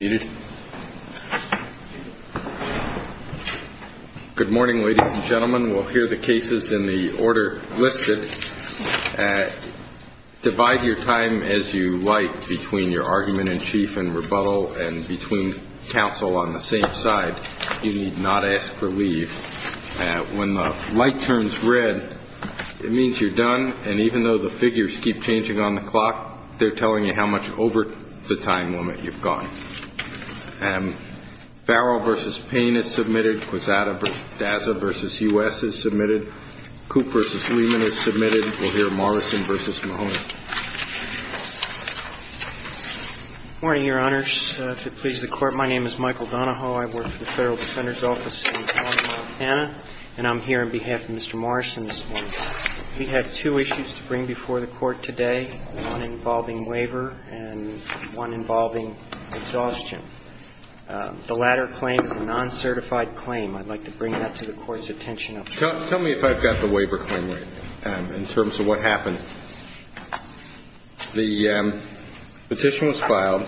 Good morning, ladies and gentlemen. We'll hear the cases in the order listed. Divide your time as you like between your argument in chief and rebuttal and between counsel on the same side. You need not ask for leave. When the light turns red, it means you're done, and even though the figures keep changing on the clock, they're telling you how much over the time limit you've gone. Barrow v. Payne is submitted. Quezada v. Dazza v. U.S. is submitted. Coop v. Lehman is submitted. We'll hear Morrison v. Mahoney. Good morning, Your Honors. If it pleases the Court, my name is Michael Donahoe. I work for the Federal Defender's Office in Montana, and I'm here on behalf of Mr. Morrison this morning. We have two issues to bring before the Court today, one involving waiver and one involving exhaustion. The latter claim is a non-certified claim. I'd like to bring that to the Court's attention. Tell me if I've got the waiver claim right, in terms of what happened. The petition was filed.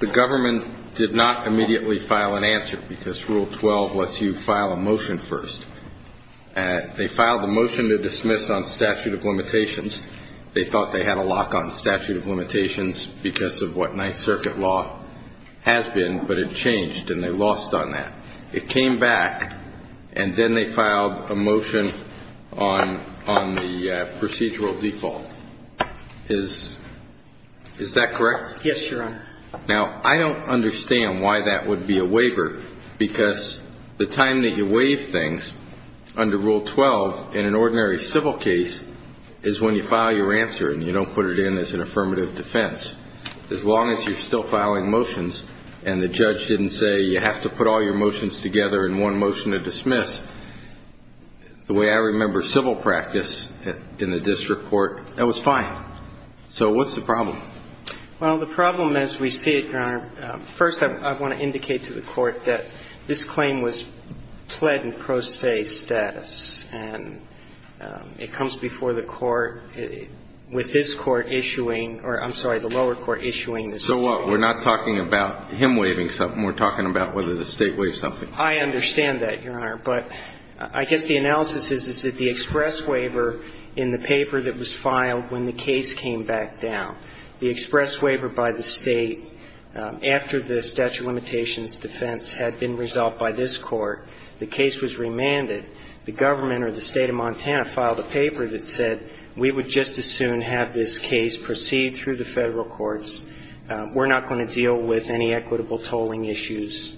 The government did not immediately file an answer because Rule 12 lets you file a motion first. They filed a motion to dismiss on statute of limitations. They thought they had a lock on statute of limitations because of what Ninth Circuit law has been, but it changed, and they lost on that. It came back, and then they filed a motion on the procedural default. Is that correct? Yes, Your Honor. Now, I don't understand why that would be a waiver, because the time that you waive things under Rule 12 in an ordinary civil case is when you file your answer, and you don't put it in as an affirmative defense. As long as you're still filing motions and the judge didn't say you have to put all your motions together in one motion to dismiss, the way I remember civil practice in the district court, that was fine. So what's the problem? Well, the problem as we see it, Your Honor, first I want to indicate to the Court that this claim was pled in pro se status, and it comes before the court with this Court issuing or, I'm sorry, the lower court issuing this waiver. So what? We're not talking about him waiving something. We're talking about whether the State waived something. I understand that, Your Honor. But I guess the analysis is, is that the express waiver in the paper that was filed when the case came back down, the express waiver by the State after the statute of limitations defense had been resolved by this Court, the case was remanded. The government or the State of Montana filed a paper that said we would just as soon have this case proceed through the Federal courts. We're not going to deal with any equitable tolling issues.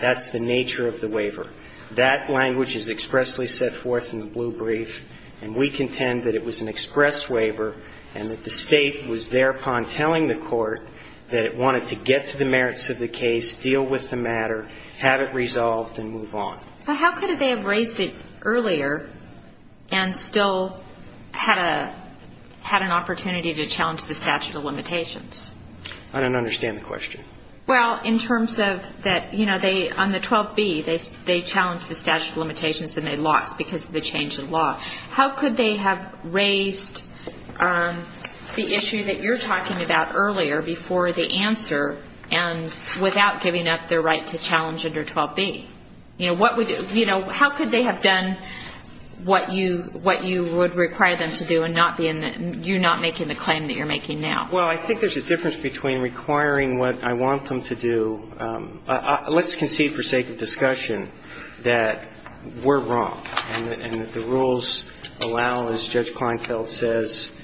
That's the nature of the waiver. That language is expressly set forth in the blue brief, and we contend that it was an express waiver and that the State was thereupon telling the Court that it wanted to get to the merits of the case, deal with the matter, have it resolved, and move on. But how could they have raised it earlier and still had an opportunity to challenge the statute of limitations? I don't understand the question. Well, in terms of that, you know, on the 12b, they challenged the statute of limitations and they lost because of the change in law. How could they have raised the issue that you're talking about earlier before the answer and without giving up their right to challenge under 12b? You know, how could they have done what you would require them to do and you not making the claim that you're making now? Well, I think there's a difference between requiring what I want them to do. Let's concede for sake of discussion that we're wrong and that the rules allow, as Judge Kleinfeld says,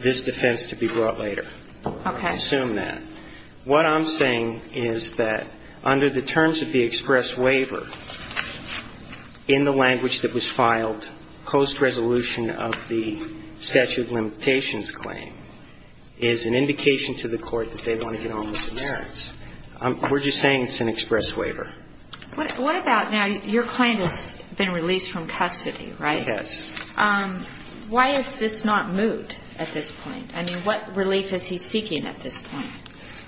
this defense to be brought later. Okay. I assume that. What I'm saying is that under the terms of the express waiver, in the language that was filed post-resolution of the statute of limitations claim, is an indication to the Court that they want to get on with the merits. We're just saying it's an express waiver. What about now your client has been released from custody, right? He has. Why is this not moved at this point? I mean, what relief is he seeking at this point?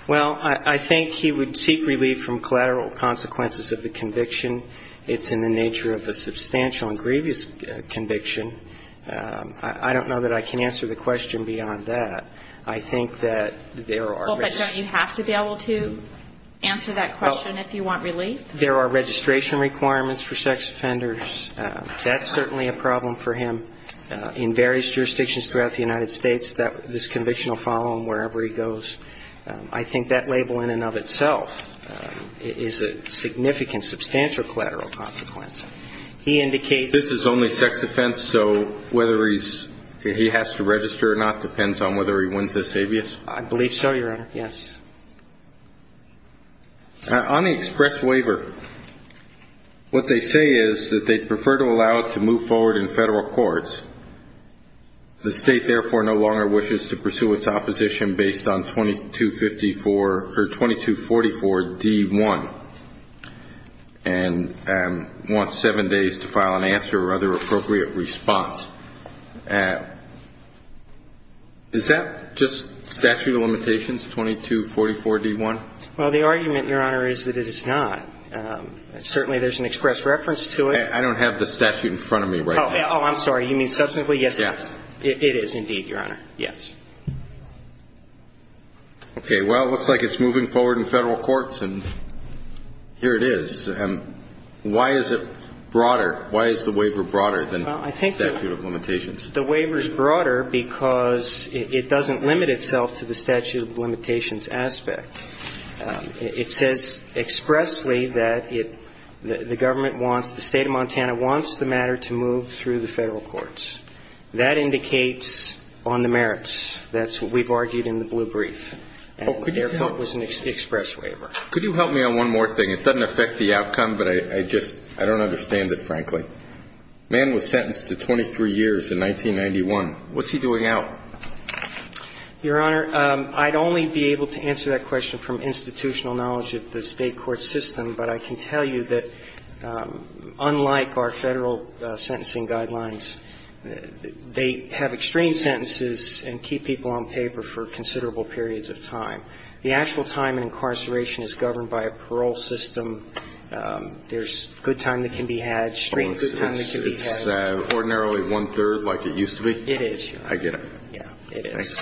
Well, I think he would seek relief from collateral consequences of the conviction. It's in the nature of a substantial and grievous conviction. I don't know that I can answer the question beyond that. I think that there are risks. Well, but don't you have to be able to answer that question if you want relief? There are registration requirements for sex offenders. That's certainly a problem for him. In various jurisdictions throughout the United States, this conviction will follow him wherever he goes. I think that label in and of itself is a significant, substantial collateral consequence. He indicates that he has to register or not depends on whether he wins this habeas. I believe so, Your Honor. Yes. On the express waiver, what they say is that they'd prefer to allow it to move forward in federal courts. The state, therefore, no longer wishes to pursue its opposition based on 2244-D-1 and wants seven days to file an answer or other appropriate response. Is that just statute of limitations, 2244-D-1? Well, the argument, Your Honor, is that it is not. Certainly there's an express reference to it. I don't have the statute in front of me right now. Oh, I'm sorry. You mean substantively? Yes. It is indeed, Your Honor. Yes. Okay. Well, it looks like it's moving forward in federal courts, and here it is. Why is it broader? Why is the waiver broader than the statute of limitations? The waiver is broader because it doesn't limit itself to the statute of limitations aspect. It says expressly that the government wants, the State of Montana wants the matter to move through the federal courts. That indicates on the merits. That's what we've argued in the blue brief. And, therefore, it was an express waiver. Could you help me on one more thing? It doesn't affect the outcome, but I just don't understand it, frankly. The man was sentenced to 23 years in 1991. What's he doing out? Your Honor, I'd only be able to answer that question from institutional knowledge of the State court system, but I can tell you that unlike our federal sentencing guidelines, they have extreme sentences and keep people on paper for considerable periods of time. The actual time in incarceration is governed by a parole system. There's good time that can be had, extreme good time that can be had. It's ordinarily one-third like it used to be? It is, Your Honor. I get it. Yeah, it is.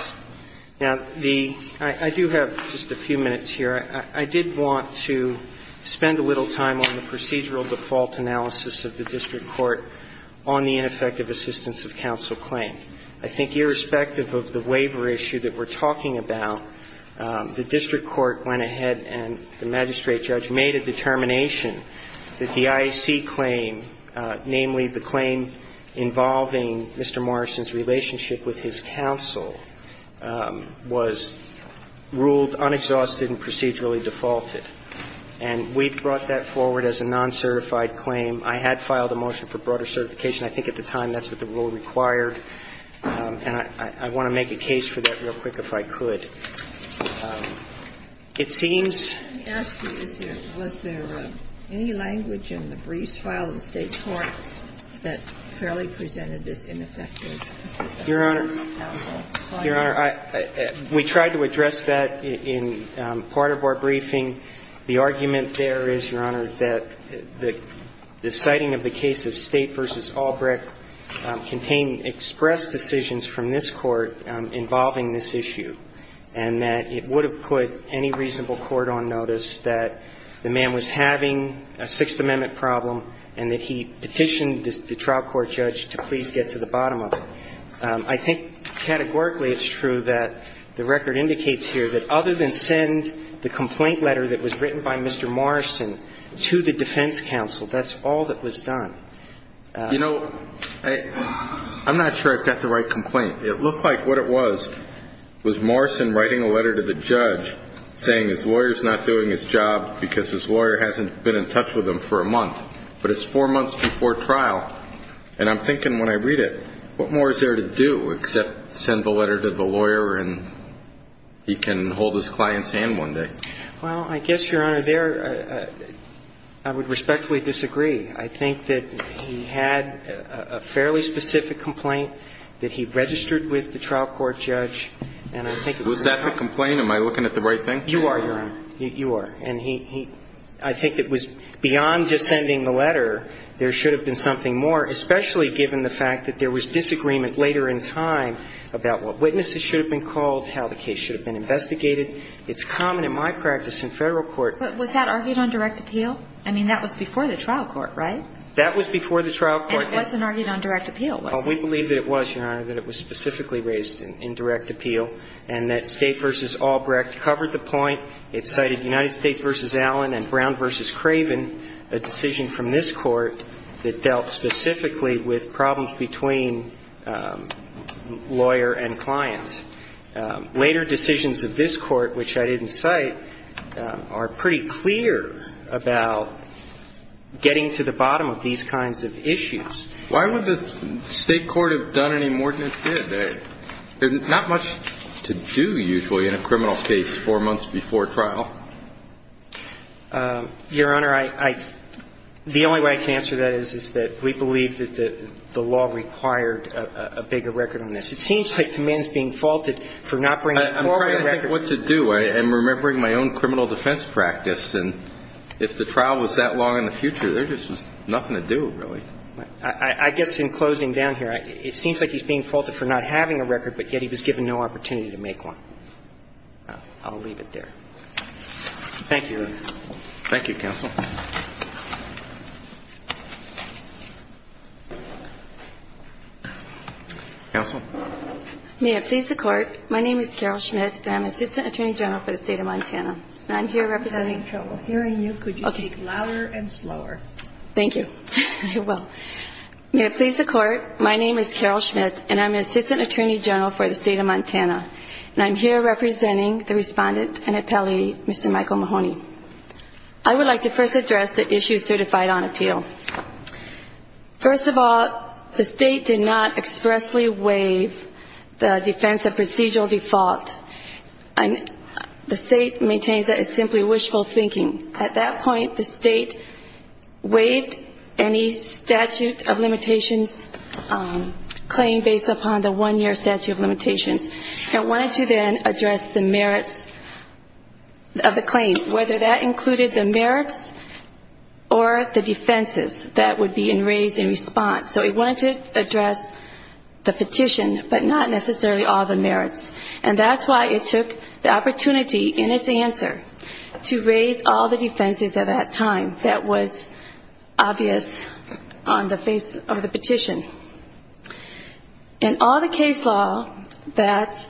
Now, the – I do have just a few minutes here. I did want to spend a little time on the procedural default analysis of the district court on the ineffective assistance of counsel claim. I think irrespective of the waiver issue that we're talking about, the district court went ahead and the magistrate judge made a determination that the IAC claim, namely the claim involving Mr. Morrison's relationship with his counsel, was ruled unexhausted and procedurally defaulted. And we brought that forward as a non-certified claim. I had filed a motion for broader certification. I think at the time that's what the rule required. And I want to make a case for that real quick if I could. It seems – Let me ask you, is there – was there any language in the briefs filed in the State Court that fairly presented this ineffective assistance of counsel claim? Your Honor, we tried to address that in part of our briefing. The argument there is, Your Honor, that the citing of the case of State v. Albrecht contained express decisions from this Court involving this issue. And that it would have put any reasonable court on notice that the man was having a Sixth Amendment problem and that he petitioned the trial court judge to please get to the bottom of it. I think categorically it's true that the record indicates here that other than send the complaint letter that was written by Mr. Morrison to the defense counsel, that's all that was done. You know, I'm not sure I've got the right complaint. It looked like what it was was Morrison writing a letter to the judge saying his lawyer's not doing his job because his lawyer hasn't been in touch with him for a month, but it's four months before trial. And I'm thinking when I read it, what more is there to do except send the letter to the lawyer and he can hold his client's hand one day? Well, I guess, Your Honor, there – I would respectfully disagree. I think that he had a fairly specific complaint that he registered with the trial court judge, and I think it was – Was that the complaint? Am I looking at the right thing? You are, Your Honor. You are. And he – I think it was beyond just sending the letter. There should have been something more, especially given the fact that there was disagreement later in time about what witnesses should have been called, how the case should have been investigated. It's common in my practice in Federal court – But was that argued on direct appeal? I mean, that was before the trial court, right? That was before the trial court. And it wasn't argued on direct appeal, was it? Well, we believe that it was, Your Honor, that it was specifically raised in direct appeal, and that State v. Albrecht covered the point. It cited United States v. Allen and Brown v. Craven, a decision from this Court that dealt specifically with problems between lawyer and client. Later decisions of this Court, which I didn't cite, are pretty clear about getting to the bottom of these kinds of issues. Why would the State court have done any more than it did? There's not much to do, usually, in a criminal case four months before trial. Your Honor, I – the only way I can answer that is, is that we believe that the law required a bigger record on this. It seems like the man's being faulted for not bringing forward a record. I'm trying to think of what to do. I'm remembering my own criminal defense practice, and if the trial was that long in the future, there just was nothing to do, really. I guess in closing down here, it seems like he's being faulted for not having a record, but yet he was given no opportunity to make one. I'll leave it there. Thank you, Your Honor. Thank you, counsel. Counsel? May it please the Court, my name is Carol Schmidt, and I'm Assistant Attorney General for the State of Montana, and I'm here representing – I'm having trouble hearing you. Could you speak louder and slower? Thank you. I will. May it please the Court, my name is Carol Schmidt, and I'm Assistant Attorney General for the State of Montana, and I'm here representing the Respondent and Appellee, Mr. Michael Mahoney. I would like to first address the issues certified on appeal. First of all, the State did not expressly waive the defense of procedural default. The State maintains that it's simply wishful thinking. At that point, the State waived any statute of limitations claim based upon the one-year statute of limitations. It wanted to then address the merits of the claim, whether that included the merits or the defenses that would be raised in response. So it wanted to address the petition, but not necessarily all the merits. And that's why it took the opportunity in its answer to raise all the defenses at that time In all the case law that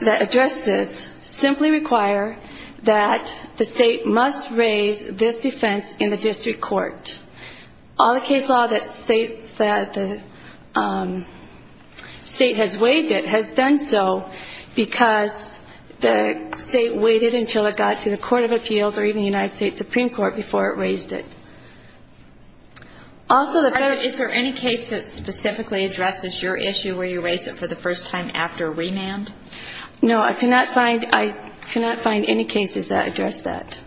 addressed this simply require that the State must raise this defense in the district court. All the case law that states that the State has waived it has done so because the State waited until it got to the Court of Appeals or even the United States Supreme Court before it raised it. Is there any case that specifically addresses your issue where you raise it for the first time after remand? No, I cannot find any cases that address that.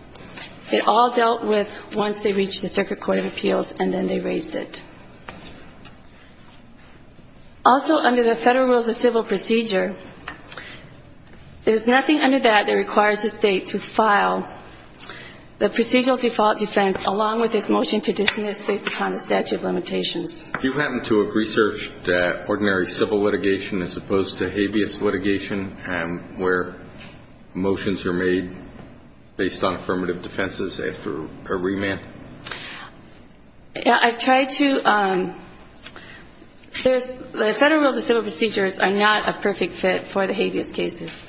It all dealt with once they reached the Circuit Court of Appeals and then they raised it. Also, under the Federal Rules of Civil Procedure, there's nothing under that that requires the State to file the procedural default defense along with its motion to dismiss based upon the statute of limitations. Do you happen to have researched ordinary civil litigation as opposed to habeas litigation where motions are made based on affirmative defenses after a remand? I've tried to. The Federal Rules of Civil Procedure are not a perfect fit for the habeas cases.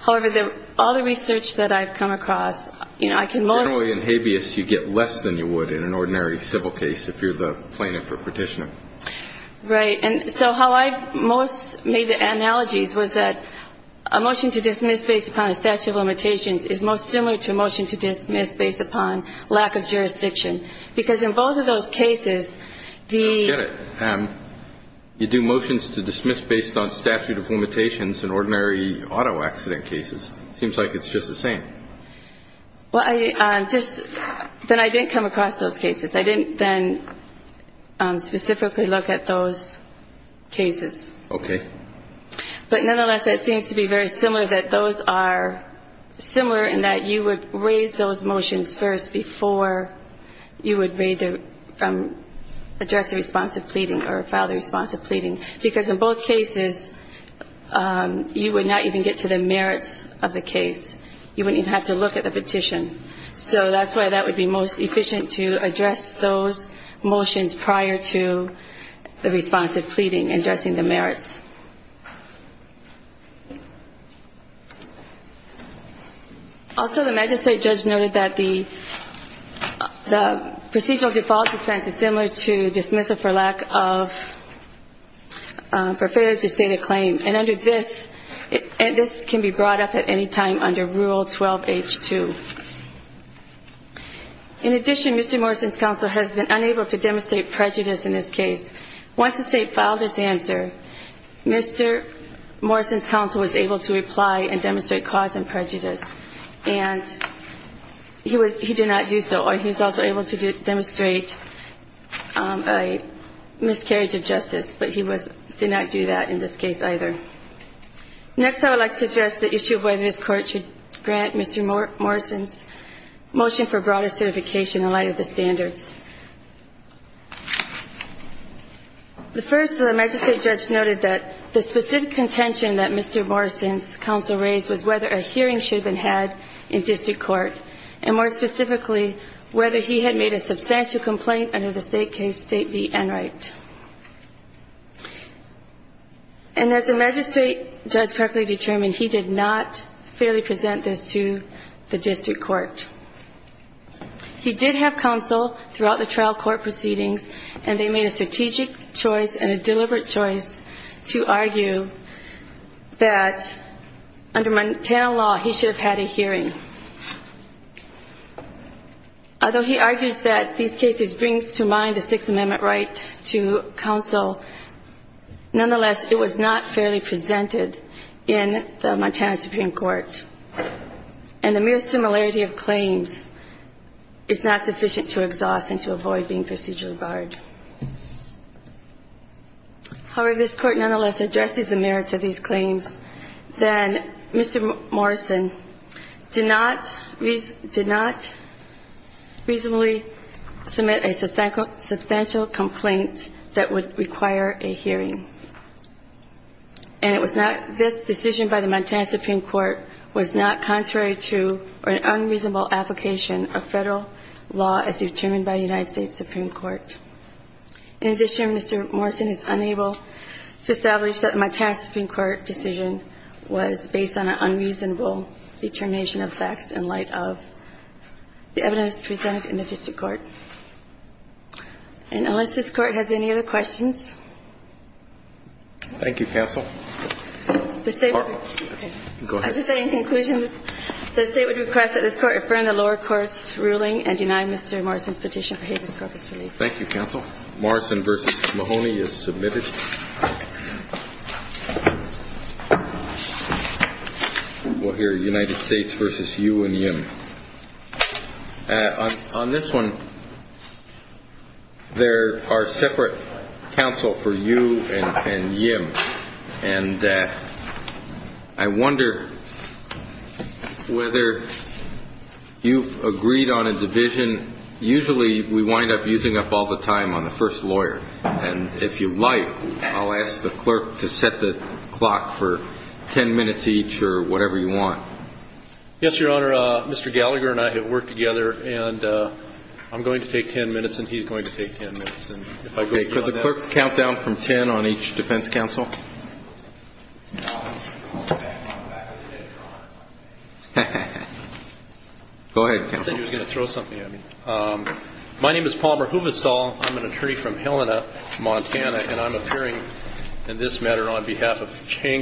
However, all the research that I've come across, you know, I can most... Generally in habeas, you get less than you would in an ordinary civil case if you're the plaintiff or petitioner. Right. And so how I've most made the analogies was that a motion to dismiss based upon a statute of limitations is most similar to a motion to dismiss based upon lack of jurisdiction because in both of those cases, the... I get it. You do motions to dismiss based on statute of limitations in ordinary auto accident cases. It seems like it's just the same. Well, I just... Then I didn't come across those cases. I didn't then specifically look at those cases. Okay. But nonetheless, it seems to be very similar that those are similar in that you would raise those motions first before you would address the response of pleading or file the response of pleading because in both cases, you would not even get to the merits of the case. You wouldn't even have to look at the petition. So that's why that would be most efficient to address those motions prior to the response of pleading and addressing the merits. Also, the magistrate judge noted that the procedural default defense is similar to dismissal for lack of... For failure to state a claim. And under this, this can be brought up at any time under Rule 12H2. In addition, Mr. Morrison's counsel has been unable to demonstrate prejudice in this case. Once the state filed its answer, Mr. Morrison's counsel was able to reply and demonstrate cause and prejudice, and he did not do so. Or he was also able to demonstrate a miscarriage of justice, but he did not do that in this case either. Next, I would like to address the issue of whether this Court should grant Mr. Morrison's motion for broader certification in light of the standards. The first, the magistrate judge noted that the specific contention that Mr. Morrison's counsel raised was whether a hearing should have been had in district court, and more specifically, whether he had made a substantial complaint under the State Case State v. Enright. And as the magistrate judge correctly determined, he did not fairly present this to the district court. He did have counsel throughout the trial court proceedings, and they made a strategic choice and a deliberate choice to argue that under Montana law, he should have had a hearing. Although he argues that these cases bring to mind the Sixth Amendment right to counsel, nonetheless, it was not fairly presented in the Montana Supreme Court. And the mere similarity of claims is not sufficient to exhaust and to avoid being procedurally barred. However, this Court nonetheless addresses the merits of these claims, that Mr. Morrison did not reasonably submit a substantial complaint that would require a hearing. And it was not this decision by the Montana Supreme Court was not contrary to an unreasonable application of federal law as determined by the United States Supreme Court. In addition, Mr. Morrison is unable to establish that a Montana Supreme Court decision was based on an unreasonable determination of facts in light of the evidence presented in the district court. And unless this Court has any other questions. Thank you, counsel. I just say in conclusion, the State would request that this Court affirm the lower court's ruling and deny Mr. Morrison's petition for habeas corpus relief. Thank you, counsel. Morrison v. Mahoney is submitted. We'll hear United States v. Yu and Yim. On this one, there are separate counsel for Yu and Yim. And I wonder whether you've agreed on a division. Usually we wind up using up all the time on the first lawyer. And if you like, I'll ask the clerk to set the clock for ten minutes each or whatever you want. Yes, Your Honor. Mr. Gallagher and I have worked together, and I'm going to take ten minutes and he's going to take ten minutes. Could the clerk count down from ten on each defense counsel? Go ahead, counsel. I thought you were going to throw something at me. My name is Palmer Huvestal. I'm an attorney from Helena, Montana, and I'm appearing in this matter on behalf of Chang